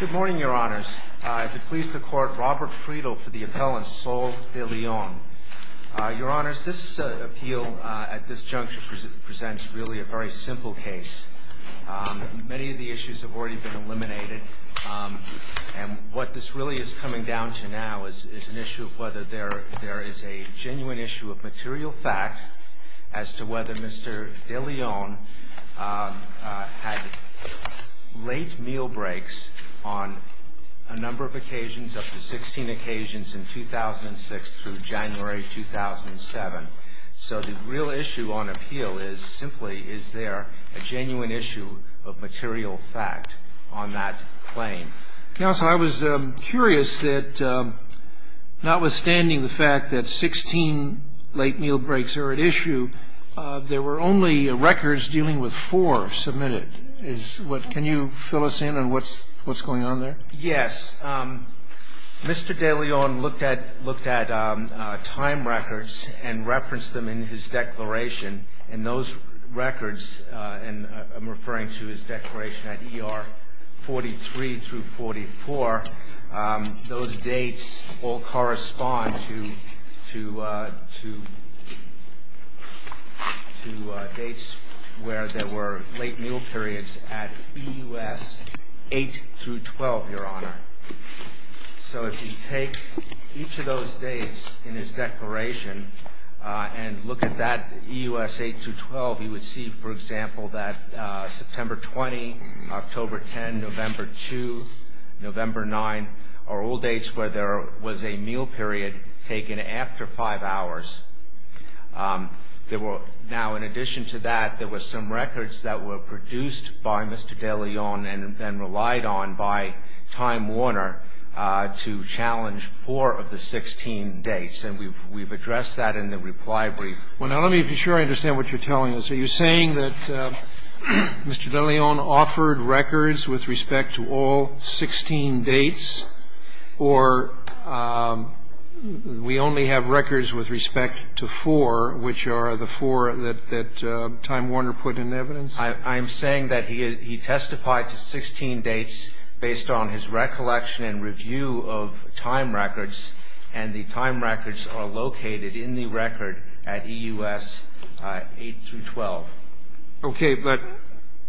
Good morning, your honors. To please the court, Robert Friedel for the appellant Sol Deleon. Your honors, this appeal at this juncture presents really a very simple case. Many of the issues have already been eliminated. And what this really is coming down to now is an issue of whether there is a genuine issue of material fact as to whether Mr. Deleon had late meal breaks on a number of occasions, up to 16 occasions in 2006 through January 2007. So the real issue on appeal is simply is there a genuine issue of material fact on that claim. Counsel, I was curious that notwithstanding the fact that 16 late meal breaks are at issue, there were only records dealing with four submitted. Can you fill us in on what's going on there? Yes. Mr. Deleon looked at time records and referenced them in his declaration. And those records, and I'm referring to his declaration at ER 43 through 44, those dates all correspond to dates where there were late meal periods at EUS 8 through 12, your honor. So if you take each of those dates in his declaration and look at that EUS 8 through 12, you would see, for example, that September 20, October 10, November 2, November 9, are all dates where there was a meal period taken after five hours. Now, in addition to that, there were some records that were produced by Mr. Deleon and then relied on by Time Warner to challenge four of the 16 dates. And we've addressed that in the reply brief. Well, now, let me be sure I understand what you're telling us. Are you saying that Mr. Deleon offered records with respect to all 16 dates, or we only have records with respect to four, which are the four that Time Warner put in evidence? I'm saying that he testified to 16 dates based on his recollection and review of time records, and the time records are located in the record at EUS 8 through 12. Okay. But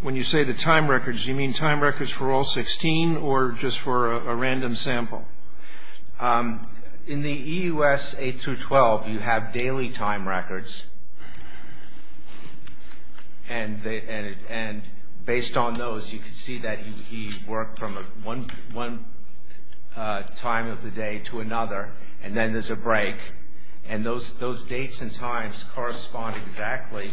when you say the time records, do you mean time records for all 16 or just for a random sample? In the EUS 8 through 12, you have daily time records. And based on those, you can see that he worked from one time of the day to another, and then there's a break. And those dates and times correspond exactly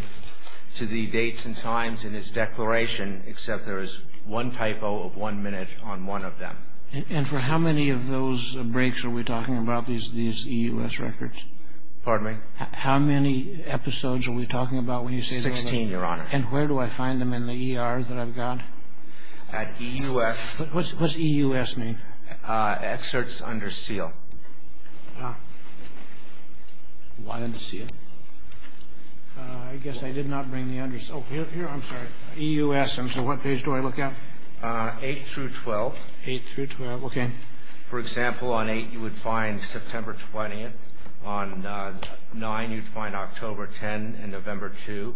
to the dates and times in his declaration, except there is one typo of one minute on one of them. And for how many of those breaks are we talking about, these EUS records? Pardon me? How many episodes are we talking about when you say that? Sixteen, Your Honor. And where do I find them in the ER that I've got? At EUS. What's EUS name? Excerpts Under Seal. Ah. Why under seal? I guess I did not bring the under seal. Here, I'm sorry. EUS. And so what page do I look at? 8 through 12. 8 through 12. Okay. For example, on 8, you would find September 20th. On 9, you'd find October 10 and November 2.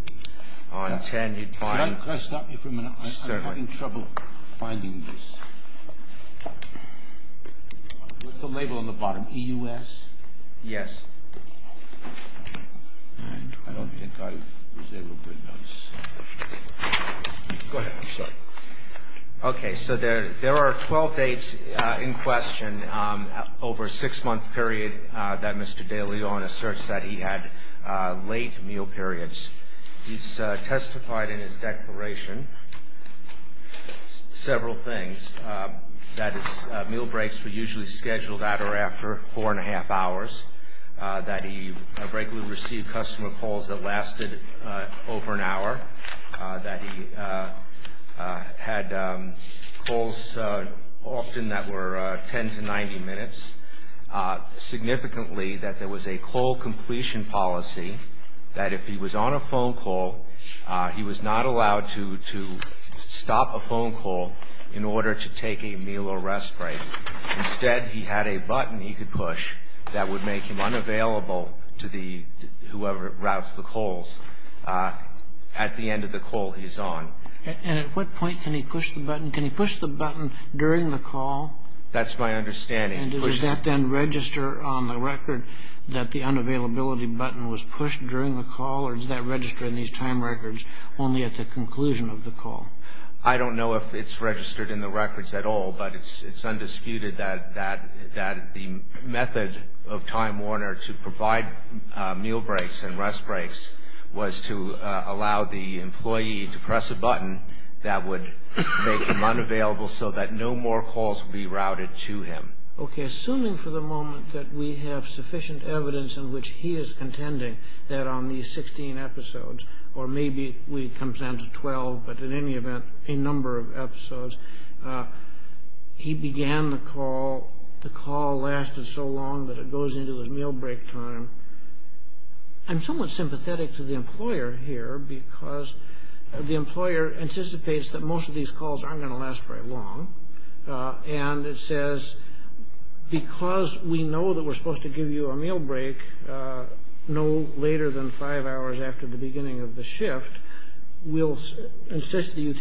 On 10, you'd find the 7th. Could I stop you for a minute? I'm having trouble finding this. What's the label on the bottom, EUS? Yes. I don't think I was able to bring those. Go ahead. I'm sorry. Okay. So there are 12 dates in question over a six-month period that Mr. De Leon asserts that he had late meal periods. He's testified in his declaration several things. That his meal breaks were usually scheduled at or after four and a half hours. That he regularly received customer calls that lasted over an hour. That he had calls often that were 10 to 90 minutes. Significantly, that there was a call completion policy that if he was on a phone call, he was not allowed to stop a phone call in order to take a meal or rest break. Instead, he had a button he could push that would make him unavailable to whoever routes the calls at the end of the call he's on. And at what point can he push the button? Can he push the button during the call? That's my understanding. And does that then register on the record that the unavailability button was pushed during the call? Or does that register in these time records only at the conclusion of the call? I don't know if it's registered in the records at all, but it's undisputed that the method of Time Warner to provide meal breaks and rest breaks was to allow the employee to press a button that would make him unavailable so that no more calls would be routed to him. Okay, assuming for the moment that we have sufficient evidence in which he is contending that on these 16 episodes, or maybe it comes down to 12, but in any event, a number of episodes, he began the call, the call lasted so long that it goes into his meal break time. I'm somewhat sympathetic to the employer here because the employer anticipates that most of these calls aren't going to last very long. And it says, because we know that we're supposed to give you a meal break no later than five hours after the beginning of the shift, we'll insist that you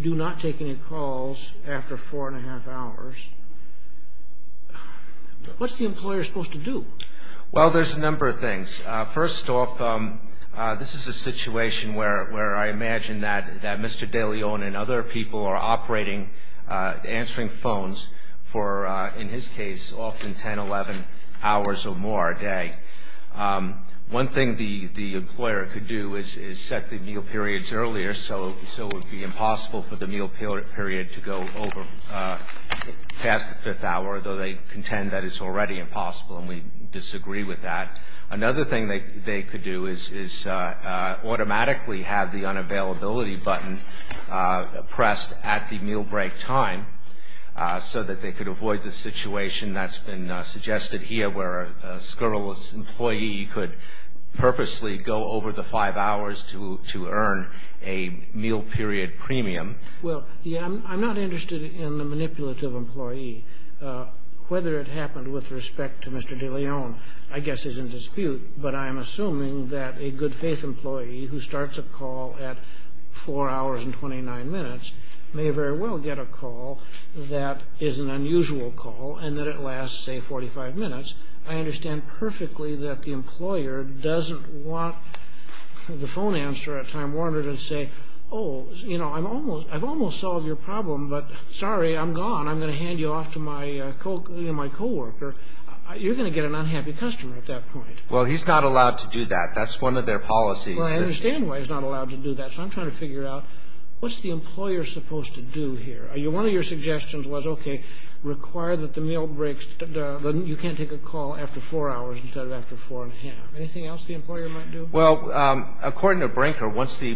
do not take any calls after four and a half hours. What's the employer supposed to do? Well, there's a number of things. First off, this is a situation where I imagine that Mr. DeLeon and other people are operating, answering phones for, in his case, often 10, 11 hours or more a day. One thing the employer could do is set the meal periods earlier, so it would be impossible for the meal period to go over past the fifth hour, though they contend that it's already impossible and we disagree with that. Another thing they could do is automatically have the unavailability button pressed at the meal break time so that they could avoid the situation that's been suggested here where a scurrilous employee could purposely go over the five hours to earn a meal period premium. Well, I'm not interested in the manipulative employee. Whether it happened with respect to Mr. DeLeon, I guess, is in dispute, but I'm assuming that a good-faith employee who starts a call at four hours and 29 minutes may very well get a call that is an unusual call and that it lasts, say, 45 minutes. I understand perfectly that the employer doesn't want the phone answer at time warranted and say, oh, you know, I've almost solved your problem, but sorry, I'm gone. I'm going to hand you off to my coworker. You're going to get an unhappy customer at that point. Well, he's not allowed to do that. That's one of their policies. Well, I understand why he's not allowed to do that. So I'm trying to figure out what's the employer supposed to do here. One of your suggestions was, okay, require that the meal breaks, that you can't take a call after four hours instead of after four and a half. Anything else the employer might do? Well, according to Brinker, once the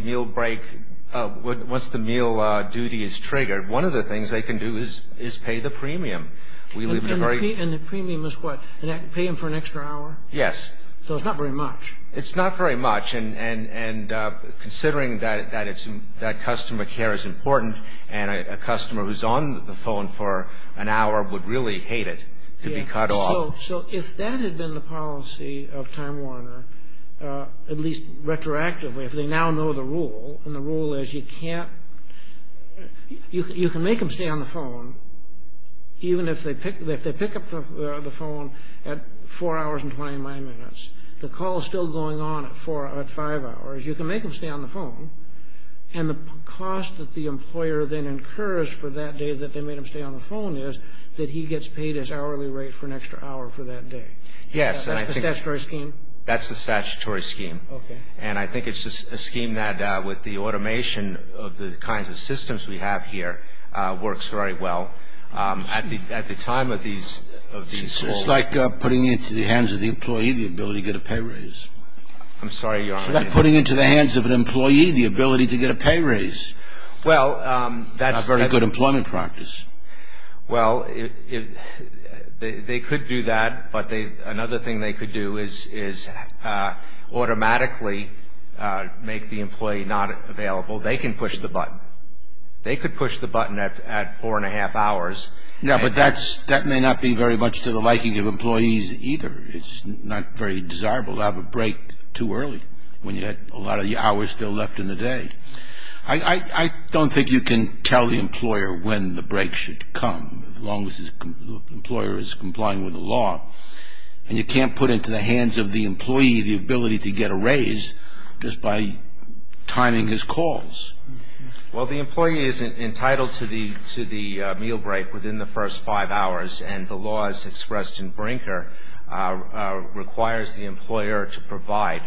meal duty is triggered, one of the things they can do is pay the premium. And the premium is what? Pay him for an extra hour? Yes. So it's not very much. It's not very much. And considering that customer care is important and a customer who's on the phone for an hour would really hate it to be cut off. So if that had been the policy of Time Warner, at least retroactively if they now know the rule, and the rule is you can make him stay on the phone, even if they pick up the phone at four hours and 29 minutes. The call is still going on at five hours. You can make him stay on the phone. And the cost that the employer then incurs for that day that they made him stay on the phone is that he gets paid his hourly rate for an extra hour for that day. Yes. That's the statutory scheme? That's the statutory scheme. Okay. And I think it's a scheme that, with the automation of the kinds of systems we have here, works very well at the time of these calls. It's like putting into the hands of the employee the ability to get a pay raise. I'm sorry, Your Honor. It's like putting into the hands of an employee the ability to get a pay raise. Well, that's not very good employment practice. Well, they could do that, but another thing they could do is automatically make the employee not available. They can push the button. They could push the button at four and a half hours. Yeah, but that may not be very much to the liking of employees either. It's not very desirable to have a break too early when you've got a lot of hours still left in the day. I don't think you can tell the employer when the break should come, as long as the employer is complying with the law. And you can't put into the hands of the employee the ability to get a raise just by timing his calls. Well, the employee is entitled to the meal break within the first five hours, and the laws expressed in Brinker requires the employer to provide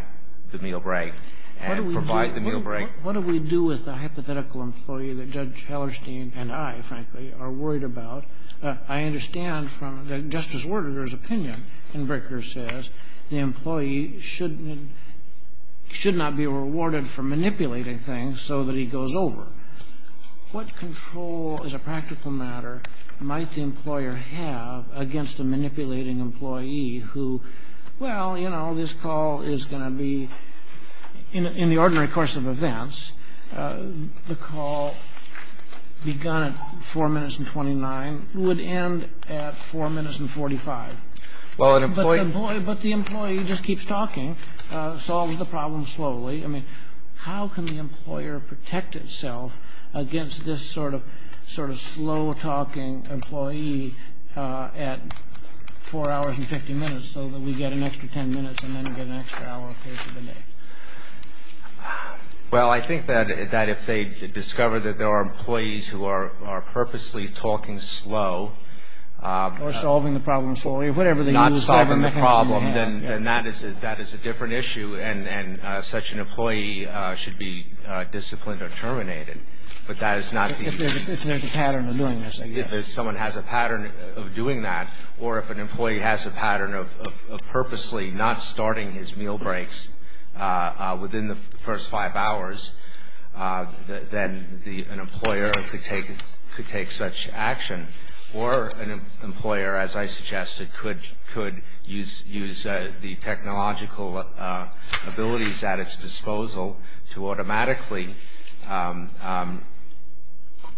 the meal break and provide the meal break. What do we do with a hypothetical employee that Judge Hellerstein and I, frankly, are worried about? I understand from Justice Werdegar's opinion in Brinker says the employee should not be rewarded for manipulating things so that he goes over. What control as a practical matter might the employer have against a manipulating employee who, well, you know, this call is going to be in the ordinary course of events. The call begun at 4 minutes and 29 would end at 4 minutes and 45. But the employee just keeps talking, solves the problem slowly. I mean, how can the employer protect itself against this sort of slow-talking employee at 4 hours and 50 minutes so that we get an extra 10 minutes and then get an extra hour a piece of the day? Well, I think that if they discover that there are employees who are purposely talking slow. Or solving the problem slowly. Not solving the problem, then that is a different issue, and such an employee should be disciplined or terminated. But that is not the case. If someone has a pattern of doing that, or if an employee has a pattern of purposely not starting his meal breaks within the first 5 hours, then an employer could take such action. Or an employer, as I suggested, could use the technological abilities at its disposal to automatically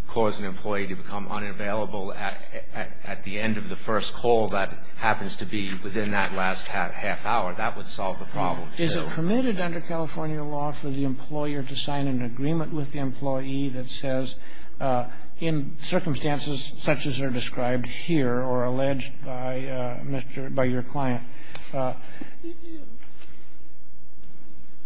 cause an employee to become unavailable at the end of the first call that happens to be within that last half hour. That would solve the problem, too. Is it permitted under California law for the employer to sign an agreement with the employee that says, in circumstances such as are described here or alleged by your client,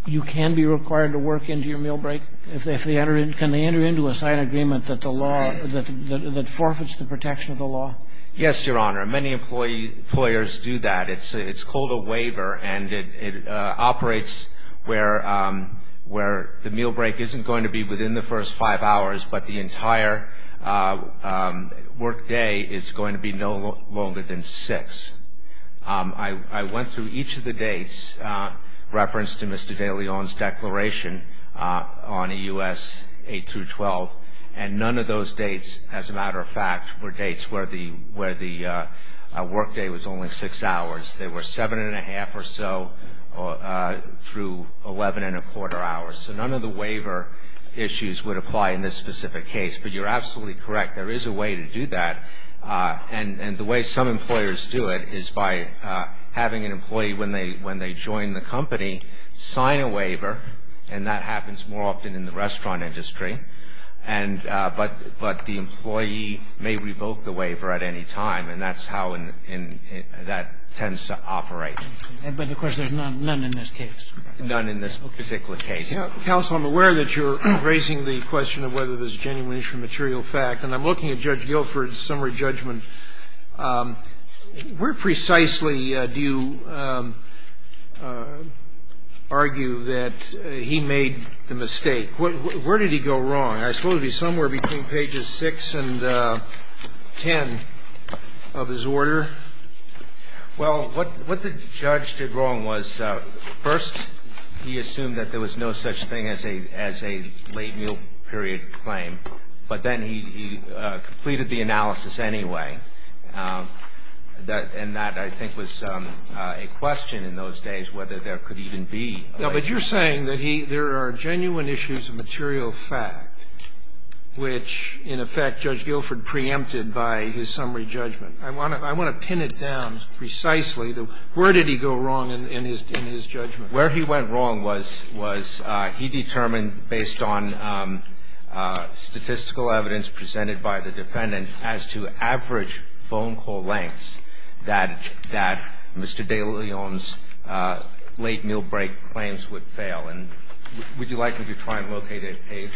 you can be required to work into your meal break? Can they enter into a signed agreement that forfeits the protection of the law? Yes, Your Honor. Many employers do that. It's called a waiver, and it operates where the meal break isn't going to be within the first 5 hours, but the entire workday is going to be no longer than 6. I went through each of the dates referenced in Mr. de Leon's declaration on EUS 8 through 12, and none of those dates, as a matter of fact, were dates where the workday was only 6 hours. They were 7 1⁄2 or so through 11 1⁄4 hours. So none of the waiver issues would apply in this specific case. But you're absolutely correct. There is a way to do that. And the way some employers do it is by having an employee, when they join the company, sign a waiver, and that happens more often in the restaurant industry, but the employee may revoke the waiver at any time, and that's how that tends to operate. But, of course, there's none in this case. None in this particular case. Scalia. Counsel, I'm aware that you're raising the question of whether there's genuine issue of material fact, and I'm looking at Judge Guilford's summary judgment. Where precisely do you argue that he made the mistake? Where did he go wrong? I suppose it would be somewhere between pages 6 and 10 of his order. Well, what the judge did wrong was, first, he assumed that there was no such thing as a late meal period claim, but then he completed the analysis anyway. And that, I think, was a question in those days whether there could even be a late meal period claim. No, but you're saying that there are genuine issues of material fact, which, in effect, Judge Guilford preempted by his summary judgment. I want to pin it down precisely. Where did he go wrong in his judgment? Where he went wrong was he determined, based on statistical evidence presented by the defendant as to average phone call lengths, that Mr. de Leon's late meal break claims would fail. And would you like me to try and locate a page?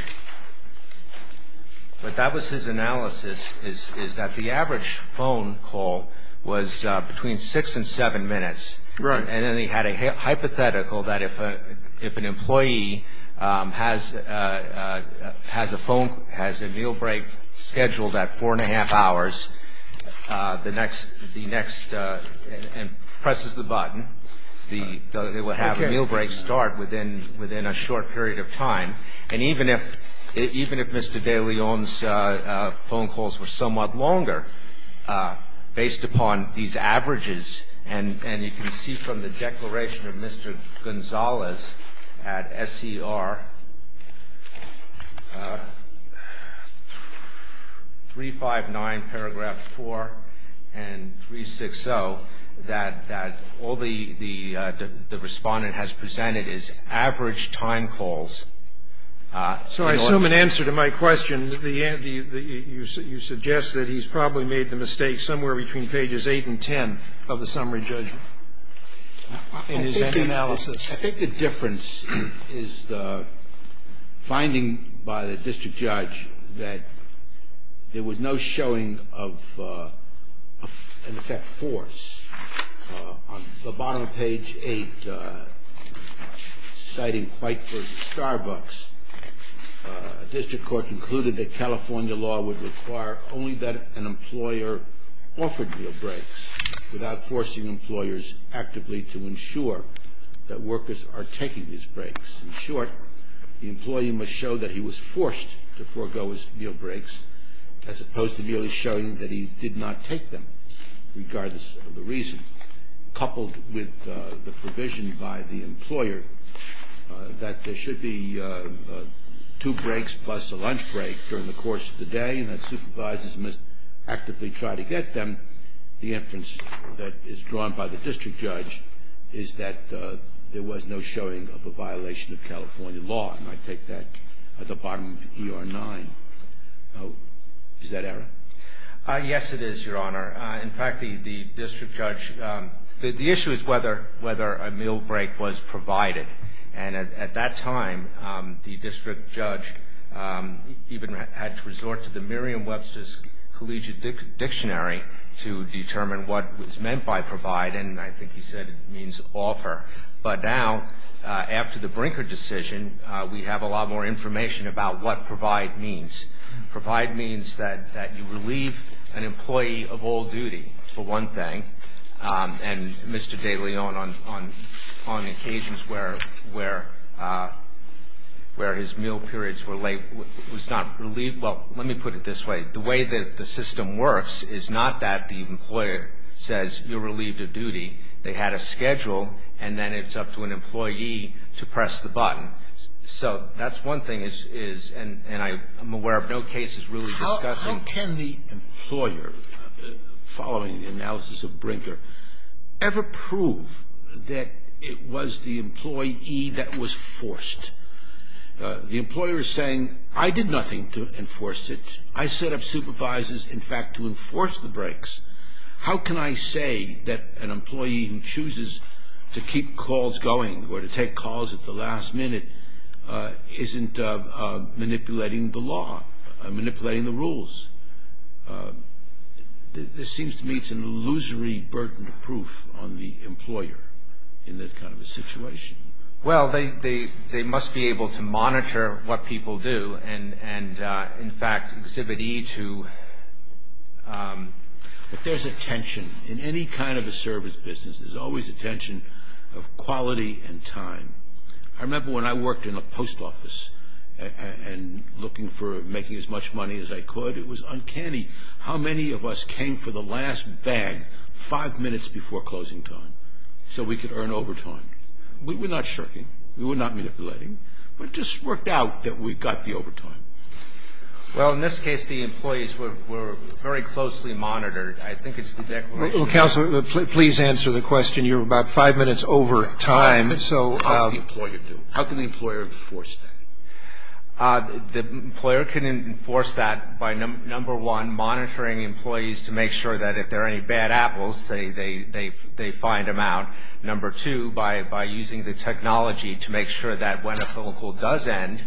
But that was his analysis, is that the average phone call was between 6 and 7 minutes. Right. And then he had a hypothetical that if an employee has a phone, has a meal break scheduled at 4 1⁄2 hours, the next, and presses the button, they will have a meal break start within a short period of time. And even if Mr. de Leon's phone calls were somewhat longer, based upon these averages and you can see from the declaration of Mr. Gonzalez at SER 359 paragraph 4 and 360 that all the Respondent has presented is average time calls. So I assume in answer to my question, you suggest that he's probably made the mistake somewhere between pages 8 and 10 of the summary judgment in his analysis. I think the difference is the finding by the district judge that there was no showing of, in effect, force. On the bottom of page 8, citing White vs. Starbucks, a district court concluded that California law would require only that an employer offered meal breaks without forcing employers actively to ensure that workers are taking these breaks. In short, the employee must show that he was forced to forego his meal breaks as opposed to merely showing that he did not take them, regardless of the reason. Coupled with the provision by the employer that there should be two breaks plus a lunch break during the course of the day and that supervisors must actively try to get them, the inference that is drawn by the district judge is that there was no showing of a violation of California law. And I take that at the bottom of ER 9. Is that error? Yes, it is, Your Honor. In fact, the district judge, the issue is whether a meal break was provided. And at that time, the district judge even had to resort to the Merriam-Webster's Collegiate Dictionary to determine what was meant by provide, and I think he said it means offer. But now, after the Brinker decision, we have a lot more information about what provide means. Provide means that you relieve an employee of all duty, for one thing, and Mr. DeLeon on occasions where his meal periods were late was not relieved. Well, let me put it this way. The way that the system works is not that the employer says you're relieved of duty. They had a schedule, and then it's up to an employee to press the button. So that's one thing, and I'm aware of no cases really discussing. How can the employer, following the analysis of Brinker, ever prove that it was the employee that was forced? The employer is saying, I did nothing to enforce it. I set up supervisors, in fact, to enforce the breaks. How can I say that an employee who chooses to keep calls going or to take calls at the last minute isn't manipulating the law, manipulating the rules? This seems to me it's an illusory burden of proof on the employer in this kind of a situation. Well, they must be able to monitor what people do and, in fact, exhibit E to... But there's a tension. In any kind of a service business, there's always a tension of quality and time. I remember when I worked in a post office and looking for making as much money as I could, it was uncanny how many of us came for the last bag five minutes before closing time so we could earn overtime. We were not shirking. We were not manipulating. It just worked out that we got the overtime. Well, in this case, the employees were very closely monitored. I think it's the declaration... Counsel, please answer the question. You're about five minutes over time, so... How can the employer enforce that? The employer can enforce that by, number one, monitoring employees to make sure that if there are any bad apples, say, they find them out. Number two, by using the technology to make sure that when a phone call does end,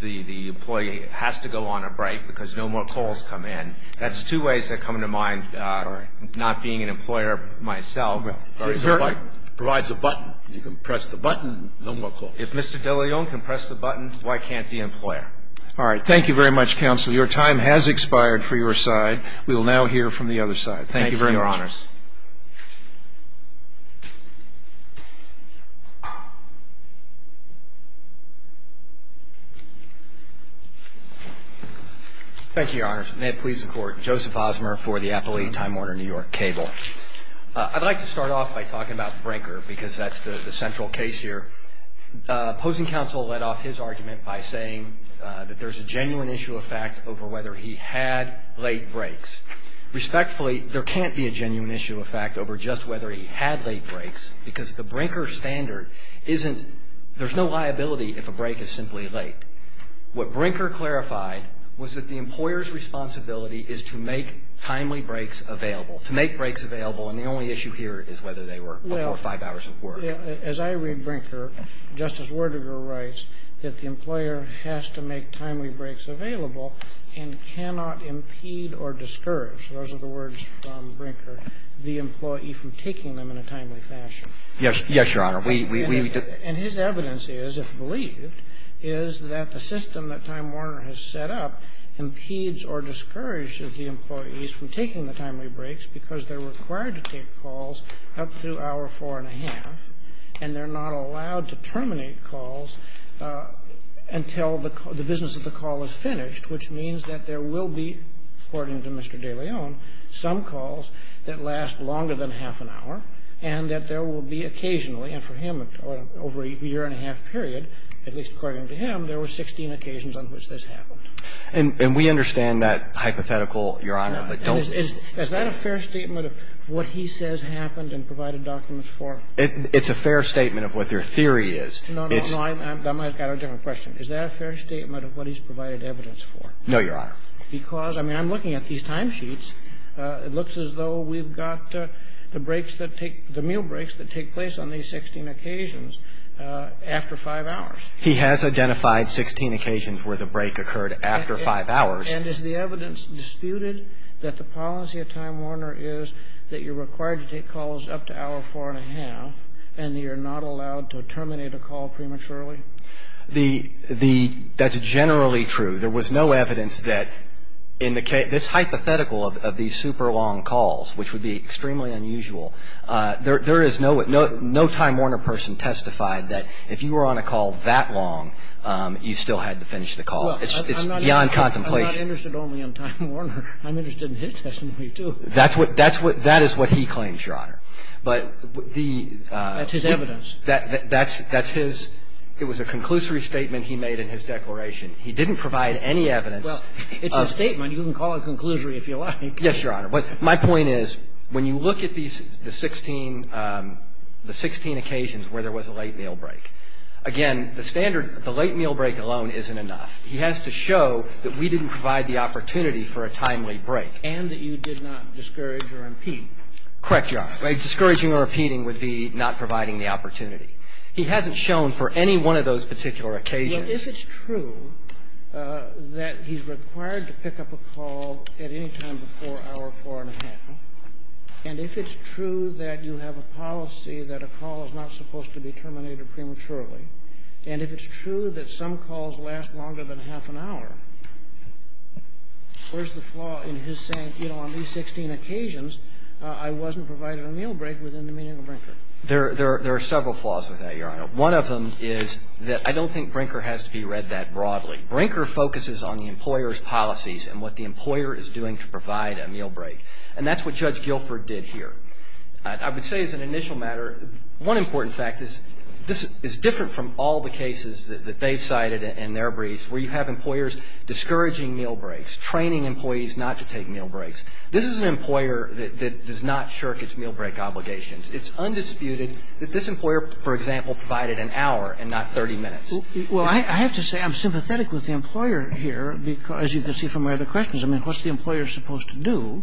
the employee has to go on a break because no more calls come in. That's two ways that come to mind, not being an employer myself. Provides a button. You can press the button, no more calls. If Mr. De Leon can press the button, why can't the employer? All right. Thank you very much, Counsel. Your time has expired for your side. We will now hear from the other side. Thank you very much. Thank you, Your Honors. Thank you, Your Honors. May it please the Court. Joseph Osmer for the Appellee Time Warner New York Cable. I'd like to start off by talking about Brinker because that's the central case here. Opposing Counsel led off his argument by saying that there's a genuine issue of fact over whether he had late breaks. Respectfully, there can't be a genuine issue of fact over just whether he had late breaks because the Brinker standard isn't, there's no liability if a break is simply late. What Brinker clarified was that the employer's responsibility is to make timely breaks available, to make breaks available, and the only issue here is whether they were before five hours of work. As I read Brinker, Justice Werdegar writes that the employer has to make timely breaks available and cannot impede or discourage, those are the words from Brinker, the employee from taking them in a timely fashion. Yes, Your Honor. And his evidence is, if believed, is that the system that Time Warner has set up impedes or discourages the employees from taking the timely breaks because they're required to take calls up to hour four and a half, and they're not allowed to terminate calls until the business of the call is finished, which means that there will be, according to Mr. de Leon, some calls that last longer than half an hour and that there will be occasionally, and for him, over a year and a half period, at least according to him, there were 16 occasions on which this happened. And we understand that hypothetical, Your Honor, but don't. Is that a fair statement of what he says happened and provided documents for? It's a fair statement of what their theory is. No, no, no. I've got a different question. Is that a fair statement of what he's provided evidence for? No, Your Honor. Because, I mean, I'm looking at these timesheets. It looks as though we've got the breaks that take the meal breaks that take place on these 16 occasions after five hours. He has identified 16 occasions where the break occurred after five hours. And is the evidence disputed that the policy of Time Warner is that you're required to take calls up to hour four and a half and that you're not allowed to terminate a call prematurely? That's generally true. There was no evidence that in the case of this hypothetical of these super long calls, which would be extremely unusual, there is no time Warner person testified that if you were on a call that long, you still had to finish the call. It's beyond contemplation. I'm not interested only in Time Warner. I'm interested in his testimony, too. That's what he claims, Your Honor. But the ---- That's his evidence. That's his. It was a conclusory statement he made in his declaration. He didn't provide any evidence. Well, it's a statement. You can call it a conclusory if you like. Yes, Your Honor. But my point is, when you look at the 16 occasions where there was a late meal break, again, the standard, the late meal break alone isn't enough. He has to show that we didn't provide the opportunity for a timely break. And that you did not discourage or impede. Correct, Your Honor. Discouraging or impeding would be not providing the opportunity. He hasn't shown for any one of those particular occasions. Well, if it's true that he's required to pick up a call at any time before hour 4 1⁄2, and if it's true that you have a policy that a call is not supposed to be terminated prematurely, and if it's true that some calls last longer than half an hour, where's the flaw in his saying, you know, on these 16 occasions, I wasn't provided a meal break within the meeting of Brinker? There are several flaws with that, Your Honor. One of them is that I don't think Brinker has to be read that broadly. Brinker focuses on the employer's policies and what the employer is doing to provide a meal break. And that's what Judge Guilford did here. But I would say as an initial matter, one important fact is this is different from all the cases that they've cited in their briefs where you have employers discouraging meal breaks, training employees not to take meal breaks. This is an employer that does not shirk its meal break obligations. It's undisputed that this employer, for example, provided an hour and not 30 minutes. Well, I have to say I'm sympathetic with the employer here because, as you can see from my other questions, I mean, what's the employer supposed to do?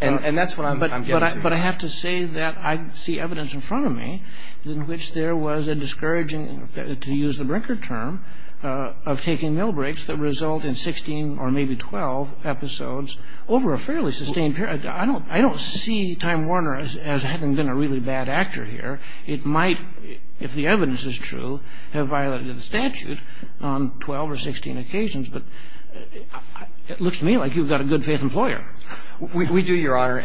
And that's what I'm getting to. But I have to say that I see evidence in front of me in which there was a discouraging to use the Brinker term of taking meal breaks that result in 16 or maybe 12 episodes over a fairly sustained period. I don't see Time Warner as having been a really bad actor here. It might, if the evidence is true, have violated the statute on 12 or 16 occasions. But it looks to me like you've got a good-faith employer. We do, Your Honor.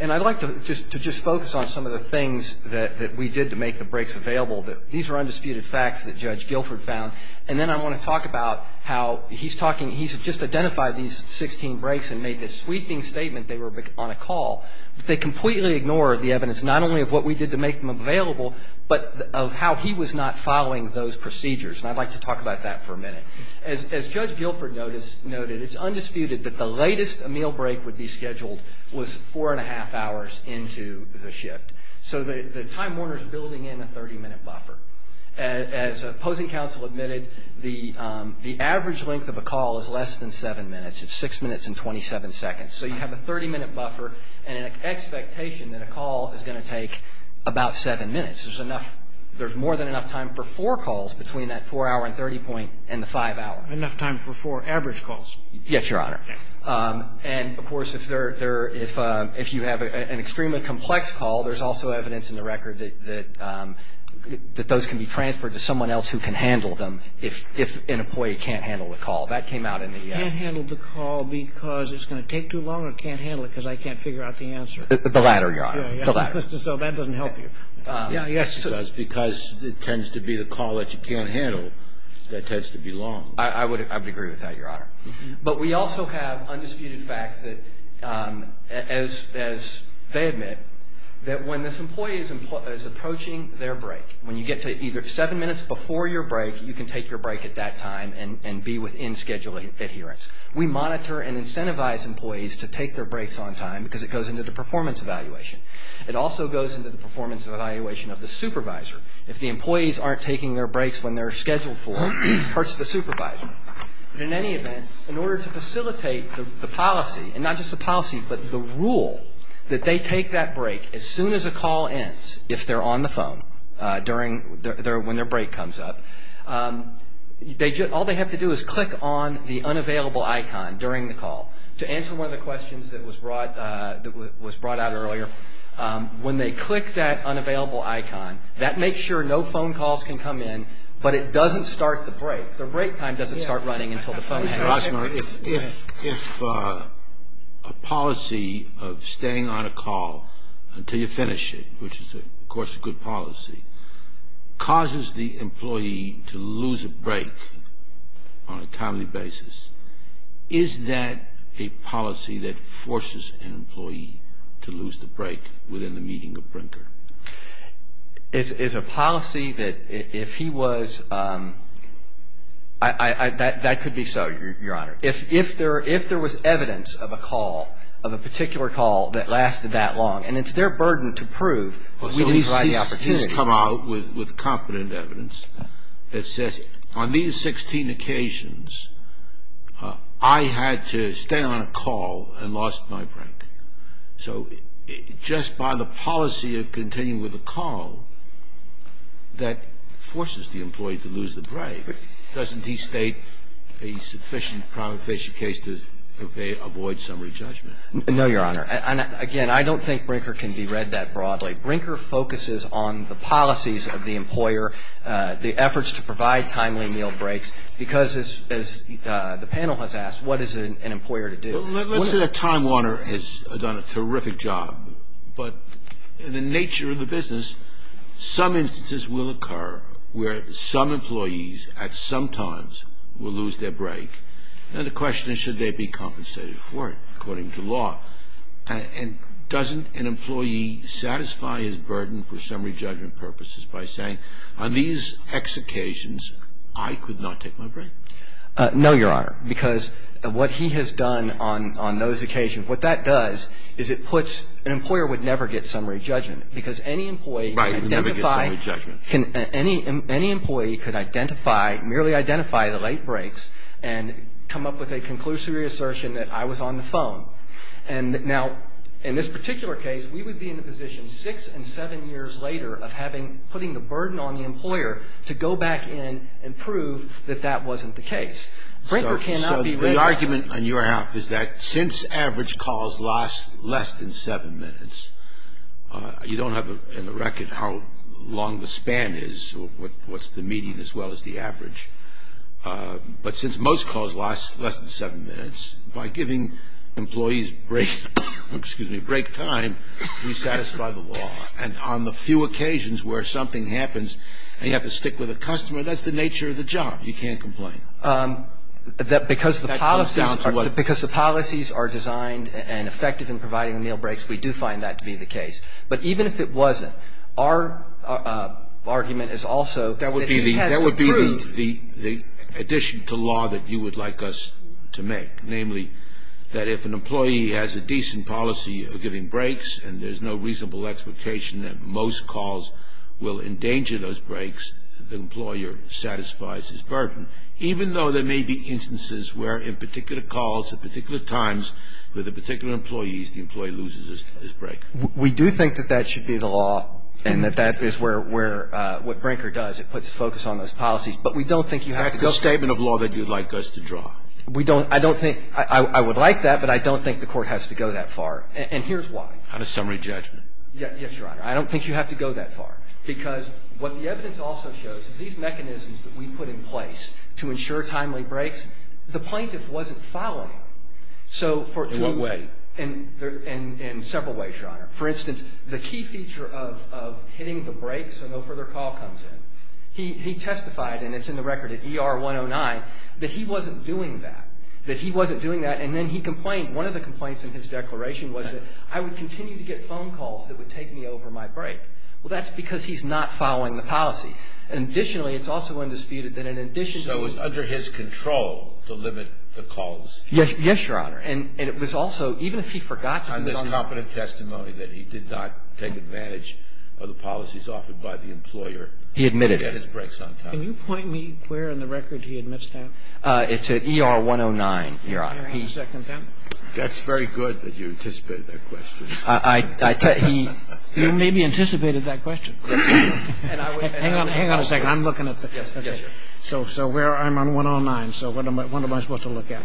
And I'd like to just focus on some of the things that we did to make the breaks available. These are undisputed facts that Judge Guilford found. And then I want to talk about how he's talking he's just identified these 16 breaks and made this sweeping statement. They were on a call. They completely ignored the evidence, not only of what we did to make them available, but of how he was not following those procedures. And I'd like to talk about that for a minute. As Judge Guilford noted, it's undisputed that the latest a meal break would be scheduled was four and a half hours into the shift. So the Time Warner is building in a 30-minute buffer. As opposing counsel admitted, the average length of a call is less than 7 minutes. It's 6 minutes and 27 seconds. So you have a 30-minute buffer and an expectation that a call is going to take about 7 minutes. There's enough – there's more than enough time for four calls between that 4-hour and 30-point and the 5-hour. Enough time for four average calls. Yes, Your Honor. And, of course, if you have an extremely complex call, there's also evidence in the record that those can be transferred to someone else who can handle them if an employee can't handle the call. That came out in the – Can't handle the call because it's going to take too long or can't handle it because I can't figure out the answer? The latter, Your Honor. The latter. So that doesn't help you. Yes, it does, because it tends to be the call that you can't handle that tends to be long. I would agree with that, Your Honor. But we also have undisputed facts that, as they admit, that when this employee is approaching their break, when you get to either 7 minutes before your break, you can take your break at that time and be within scheduled adherence. We monitor and incentivize employees to take their breaks on time because it goes into the performance evaluation. It also goes into the performance evaluation of the supervisor. If the employees aren't taking their breaks when they're scheduled for, it hurts the supervisor. In any event, in order to facilitate the policy, and not just the policy, but the rule that they take that break as soon as a call ends, if they're on the phone when their break comes up, all they have to do is click on the unavailable icon during the call. To answer one of the questions that was brought out earlier, when they click that unavailable icon, that makes sure no phone calls can come in, but it doesn't start the break. The break time doesn't start running until the phone has a call. If a policy of staying on a call until you finish it, which is, of course, a good policy, causes the employee to lose a break on a timely basis, is that a policy that forces an employee to lose the break within the meeting of Brinker? It's a policy that if he was, that could be so, Your Honor. If there was evidence of a call, of a particular call that lasted that long, and it's their burden to prove, we didn't provide the opportunity. He's come out with confident evidence that says, on these 16 occasions, I had to stay on a call and lost my break. So just by the policy of continuing with a call that forces the employee to lose the break, doesn't he state a sufficient prima facie case to avoid summary judgment? No, Your Honor. Again, I don't think Brinker can be read that broadly. Brinker focuses on the policies of the employer, the efforts to provide timely meal breaks, because, as the panel has asked, what is an employer to do? Let's say that Time Warner has done a terrific job, but the nature of the business, some instances will occur where some employees at some times will lose their break, and the question is, should they be compensated for it according to law? And doesn't an employee satisfy his burden for summary judgment purposes by saying, on these X occasions, I could not take my break? No, Your Honor. Because what he has done on those occasions, what that does is it puts an employer would never get summary judgment, because any employee could identify, merely identify the late breaks and come up with a conclusive assertion that I was on the phone. Now, in this particular case, we would be in the position six and seven years later of putting the burden on the employer to go back in and prove that that wasn't the case. So the argument on your half is that since average calls last less than seven minutes, you don't have in the record how long the span is or what's the median as well as the average. But since most calls last less than seven minutes, by giving employees break time, we satisfy the law. And on the few occasions where something happens and you have to stick with a customer, that's the nature of the job. You can't complain. That because the policies are designed and effective in providing meal breaks, we do find that to be the case. But even if it wasn't, our argument is also that he has to prove. That would be the addition to law that you would like us to make, namely that if an employee has a decent policy of giving breaks and there's no reasonable expectation that most calls will endanger those breaks, the employer satisfies his burden, even though there may be instances where in particular calls, at particular times with a particular employee, the employee loses his break. We do think that that should be the law and that that is where what Brinker does. It puts the focus on those policies. But we don't think you have to go far. That's the statement of law that you would like us to draw. We don't – I don't think – I would like that, but I don't think the Court has to go that far. And here's why. On a summary judgment. Yes, Your Honor. I don't think you have to go that far. Because what the evidence also shows is these mechanisms that we put in place to ensure timely breaks, the plaintiff wasn't following. In what way? In several ways, Your Honor. For instance, the key feature of hitting the break so no further call comes in. He testified, and it's in the record at ER 109, that he wasn't doing that, that he wasn't doing that. And then he complained. And I think that's the key point in his declaration, was that, I would continue to get phone calls that would take me over my break. Well, that's because he's not following the policy. And additionally, it's also undisputed that in addition to the – So it's under his control to limit the calls? Yes, Your Honor. And it was also, even if he forgot to – On this competent testimony that he did not take advantage of the policies offered by the employer – He admitted it. – to get his breaks on time. Can you point me where in the record he admits that? It's at ER 109, Your Honor. He's – That's very good that you anticipated that question. He maybe anticipated that question. Hang on a second. I'm looking at the – Yes, sir. So where – I'm on 109. So what am I supposed to look at?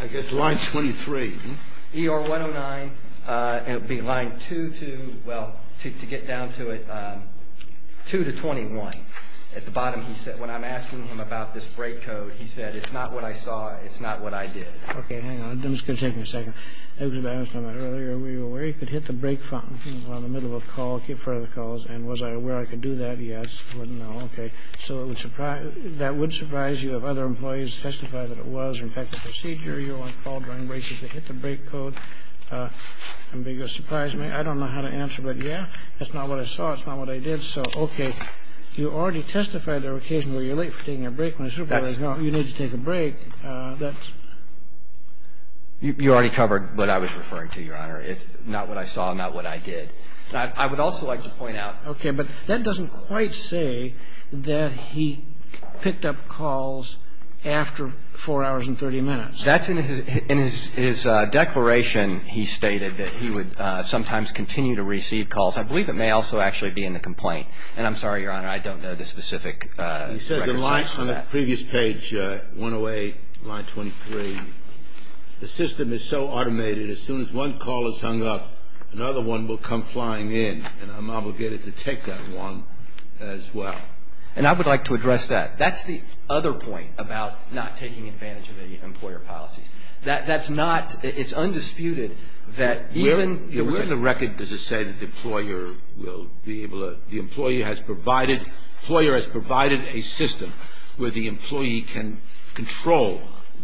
I guess line 23. ER 109, it would be line 2 to – well, to get down to it, 2 to 21. At the bottom he said – when I'm asking him about this break code, he said, it's not what I saw, it's not what I did. Okay. Hang on. I'm just going to take me a second. I was talking about it earlier. Were you aware you could hit the break button in the middle of a call, get in front of the calls, and was I aware I could do that? Yes. No. Okay. So it would surprise – that would surprise you if other employees testified that it was, in fact, a procedure. You were on call during breaks. Did they hit the break code? And would you surprise me? I don't know how to answer, but, yeah, that's not what I saw. It's not what I did. So, okay. You already testified there were occasions where you're late for taking a break when you need to take a break. That's – You already covered what I was referring to, Your Honor. It's not what I saw and not what I did. I would also like to point out – Okay. But that doesn't quite say that he picked up calls after 4 hours and 30 minutes. That's in his declaration. He stated that he would sometimes continue to receive calls. I believe it may also actually be in the complaint. And I'm sorry, Your Honor, I don't know the specific record. He says in line – on the previous page, 108, line 23, the system is so automated as soon as one call is hung up, another one will come flying in, and I'm obligated to take that one as well. And I would like to address that. That's the other point about not taking advantage of the employer policies. That's not – it's undisputed that even – that the employer will be able to – the employee has provided – the employer has provided a system where the employee can control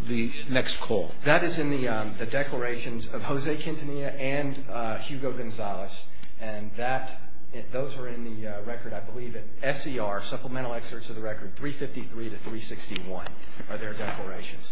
the next call. That is in the declarations of Jose Quintanilla and Hugo Gonzalez. And that – those are in the record, I believe, at SCR, supplemental excerpts of the record, 353 to 361 are their declarations.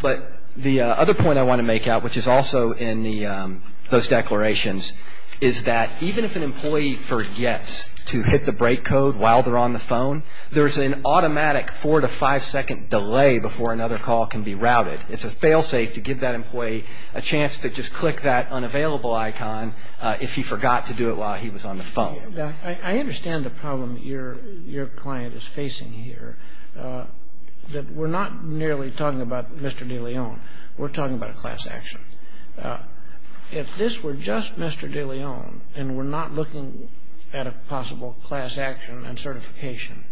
But the other point I want to make out, which is also in the – those declarations, is that even if an employee forgets to hit the break code while they're on the phone, there's an automatic four- to five-second delay before another call can be routed. It's a failsafe to give that employee a chance to just click that unavailable icon if he forgot to do it while he was on the phone. I understand the problem your client is facing here, that we're not merely talking about Mr. DeLeon. We're talking about a class action. If this were just Mr. DeLeon and we're not looking at a possible class action and certification,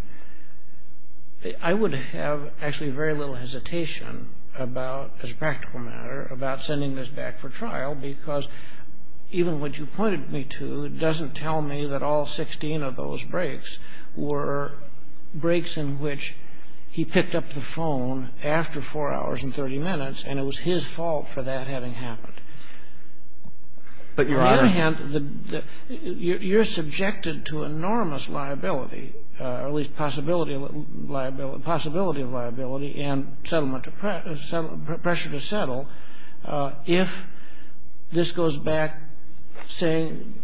I would have actually very little hesitation about, as a practical matter, about sending this back for trial because even what you pointed me to doesn't tell me that all 16 of those breaks were breaks in which he picked up the phone after 4 hours and 30 minutes, and it was his fault for that having happened. But, Your Honor – On the other hand, you're subjected to enormous liability, or at least possibility of liability and settlement – pressure to settle if this goes back saying,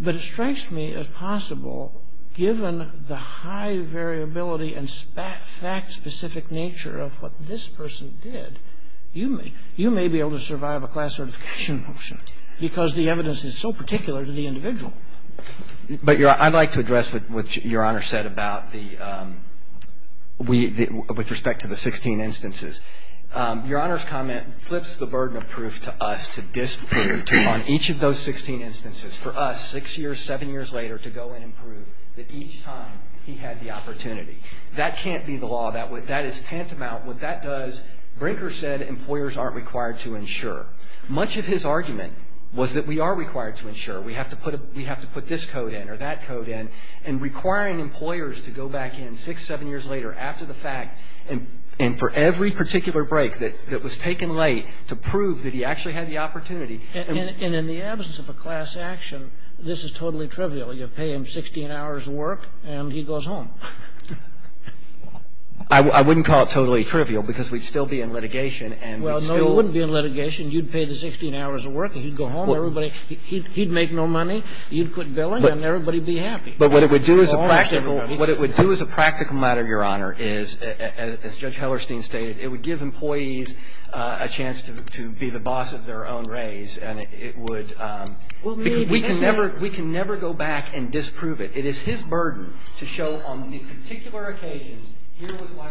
but it strikes me as possible, given the high variability and fact-specific nature of what this person did, you may be able to survive a class certification motion because the evidence is so particular to the individual. But, Your Honor, I'd like to address what Your Honor said about the – with respect to the 16 instances. Your Honor's comment flips the burden of proof to us to disprove on each of those 16 instances. For us, six years, seven years later, to go in and prove that each time he had the opportunity. That can't be the law. That is tantamount. What that does – Brinker said employers aren't required to insure. Much of his argument was that we are required to insure. We have to put this code in or that code in, and requiring employers to go back in six, seven years later after the fact and for every particular break that was taken late to prove that he actually had the opportunity. And in the absence of a class action, this is totally trivial. You pay him 16 hours of work, and he goes home. I wouldn't call it totally trivial because we'd still be in litigation, and we'd still – Well, no, you wouldn't be in litigation. You'd pay the 16 hours of work, and he'd go home. Everybody – he'd make no money. You'd quit billing, and everybody would be happy. But what it would do as a practical – what it would do as a practical matter, Your Honor, is, as Judge Hellerstein stated, it would give employees a chance to be the boss of their own race, and it would – Well, maybe that's true. We can never go back and disprove it. It is his burden to show on the particular occasion, here was why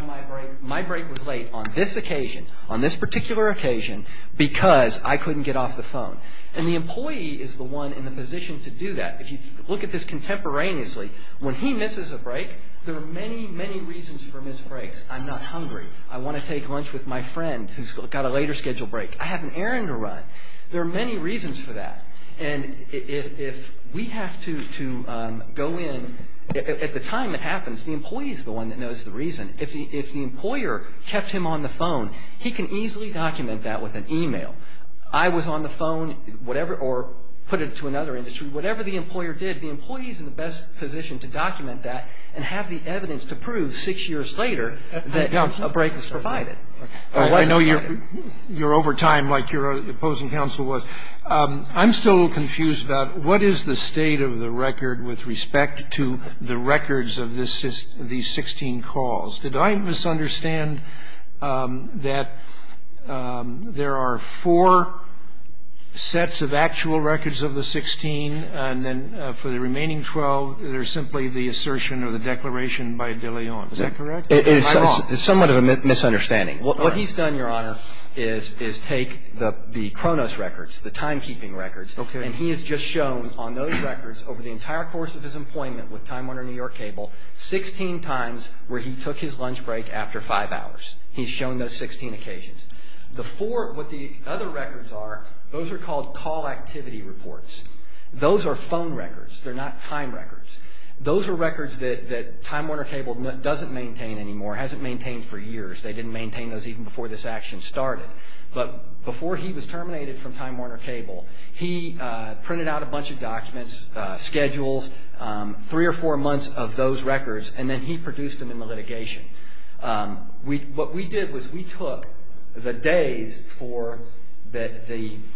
my break was late, on this occasion, on this particular occasion, because I couldn't get off the phone. And the employee is the one in the position to do that. If you look at this contemporaneously, when he misses a break, there are many, many reasons for missed breaks. I'm not hungry. I want to take lunch with my friend who's got a later scheduled break. I have an errand to run. There are many reasons for that. And if we have to go in – at the time it happens, the employee is the one that knows the reason. If the employer kept him on the phone, he can easily document that with an email. I was on the phone, whatever – or put it to another industry. Whatever the employer did, the employee is in the best position to document that and have the evidence to prove six years later that a break was provided. I know you're over time like your opposing counsel was. I'm still a little confused about what is the state of the record with respect to the records of these 16 calls. Did I misunderstand that there are four sets of actual records of the 16, and then for the remaining 12 they're simply the assertion or the declaration by De Leon? Is that correct? It's somewhat of a misunderstanding. What he's done, Your Honor, is take the Kronos records, the timekeeping records. Okay. And he has just shown on those records over the entire course of his employment with Time Warner New York Cable 16 times where he took his lunch break after five hours. He's shown those 16 occasions. The four – what the other records are, those are called call activity reports. Those are phone records. They're not time records. Those are records that Time Warner Cable doesn't maintain anymore, hasn't maintained for years. They didn't maintain those even before this action started. But before he was terminated from Time Warner Cable, he printed out a bunch of documents, schedules, three or four months of those records, and then he produced them in the litigation. What we did was we took the days for the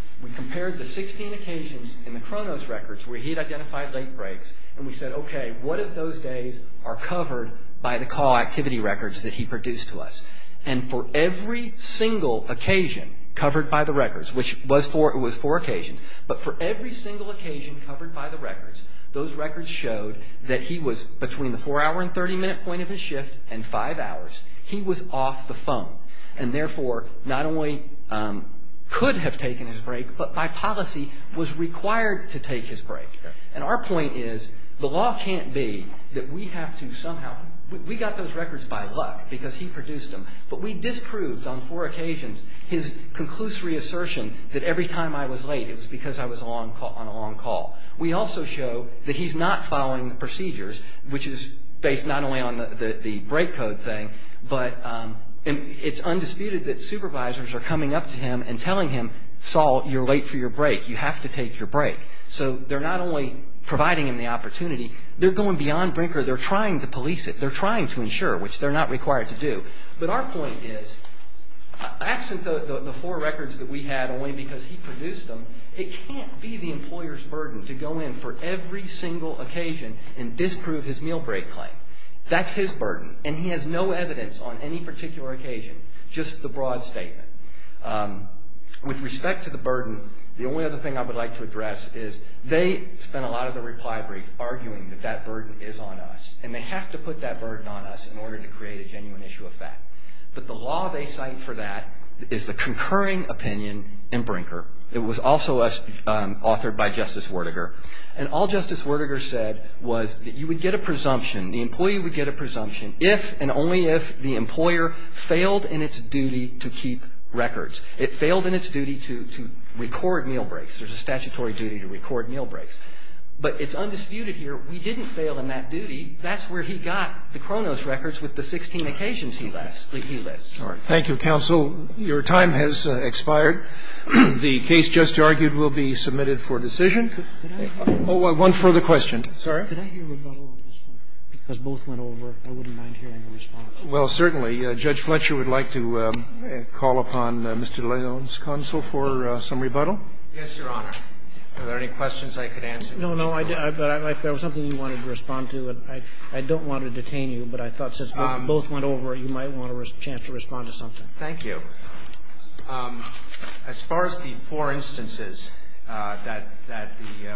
– we compared the 16 occasions in the Kronos records where he had identified late breaks, and we said, okay, what if those days are covered by the call activity records that he produced to us? And for every single occasion covered by the records, which was four occasions, but for every single occasion covered by the records, those records showed that he was, between the four-hour and 30-minute point of his shift and five hours, he was off the phone and therefore not only could have taken his break, but by policy was required to take his break. And our point is the law can't be that we have to somehow – we got those records by luck because he produced them, but we disproved on four occasions his conclusory assertion that every time I was late it was because I was on a long call. We also show that he's not following the procedures, which is based not only on the break code thing, but it's undisputed that supervisors are coming up to him and telling him, Saul, you're late for your break. You have to take your break. So they're not only providing him the opportunity, they're going beyond breaker. They're trying to police it. They're trying to ensure, which they're not required to do. But our point is, absent the four records that we had only because he produced them, it can't be the employer's burden to go in for every single occasion and disprove his meal break claim. That's his burden, and he has no evidence on any particular occasion, just the broad statement. With respect to the burden, the only other thing I would like to address is they spent a lot of their reply brief arguing that that burden is on us, and they have to put that burden on us in order to create a genuine issue of fact. But the law they cite for that is the concurring opinion in Brinker. It was also authored by Justice Werdegar. And all Justice Werdegar said was that you would get a presumption, the employee would get a presumption, if and only if the employer failed in its duty to keep records. It failed in its duty to record meal breaks. There's a statutory duty to record meal breaks. But it's undisputed here, we didn't fail in that duty. That's where he got the Kronos records with the 16 occasions he left. He left. Roberts. Thank you, counsel. Your time has expired. The case just argued will be submitted for decision. One further question. Sorry? Could I hear a rebuttal on this one? Because both went over. I wouldn't mind hearing a response. Well, certainly. Judge Fletcher would like to call upon Mr. Leone's counsel for some rebuttal. Yes, Your Honor. Are there any questions I could answer? No, no. But if there was something you wanted to respond to, and I don't want to detain you, but I thought since both went over, you might want a chance to respond to something. Thank you. As far as the four instances that the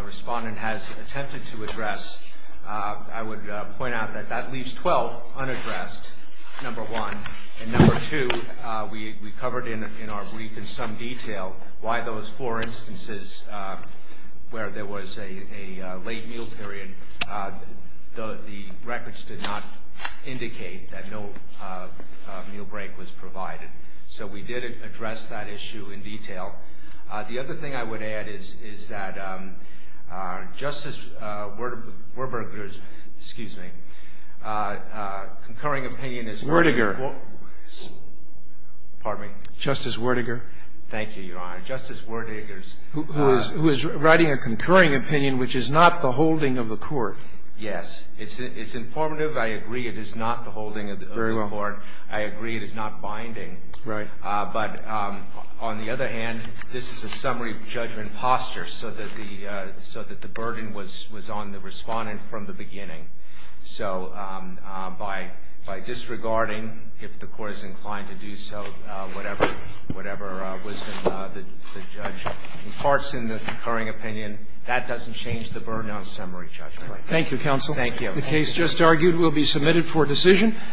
respondent has attempted to address, I would point out that that leaves 12 unaddressed, number one. And number two, we covered in our brief in some detail why those four instances where there was a late meal period, the records did not indicate that no meal break was provided. So we did address that issue in detail. The other thing I would add is that Justice Werdiger's concurring opinion is Werdiger. Pardon me? Justice Werdiger. Thank you, Your Honor. Justice Werdiger's. Who is writing a concurring opinion which is not the holding of the court. Yes. It's informative. I agree it is not the holding of the court. Very well. I agree it is not binding. Right. But on the other hand, this is a summary judgment posture so that the burden was on the respondent from the beginning. So by disregarding, if the Court is inclined to do so, whatever wisdom the defendant imparts in the concurring opinion, that doesn't change the burden on summary judgment. Thank you, counsel. Thank you. The case just argued will be submitted for decision.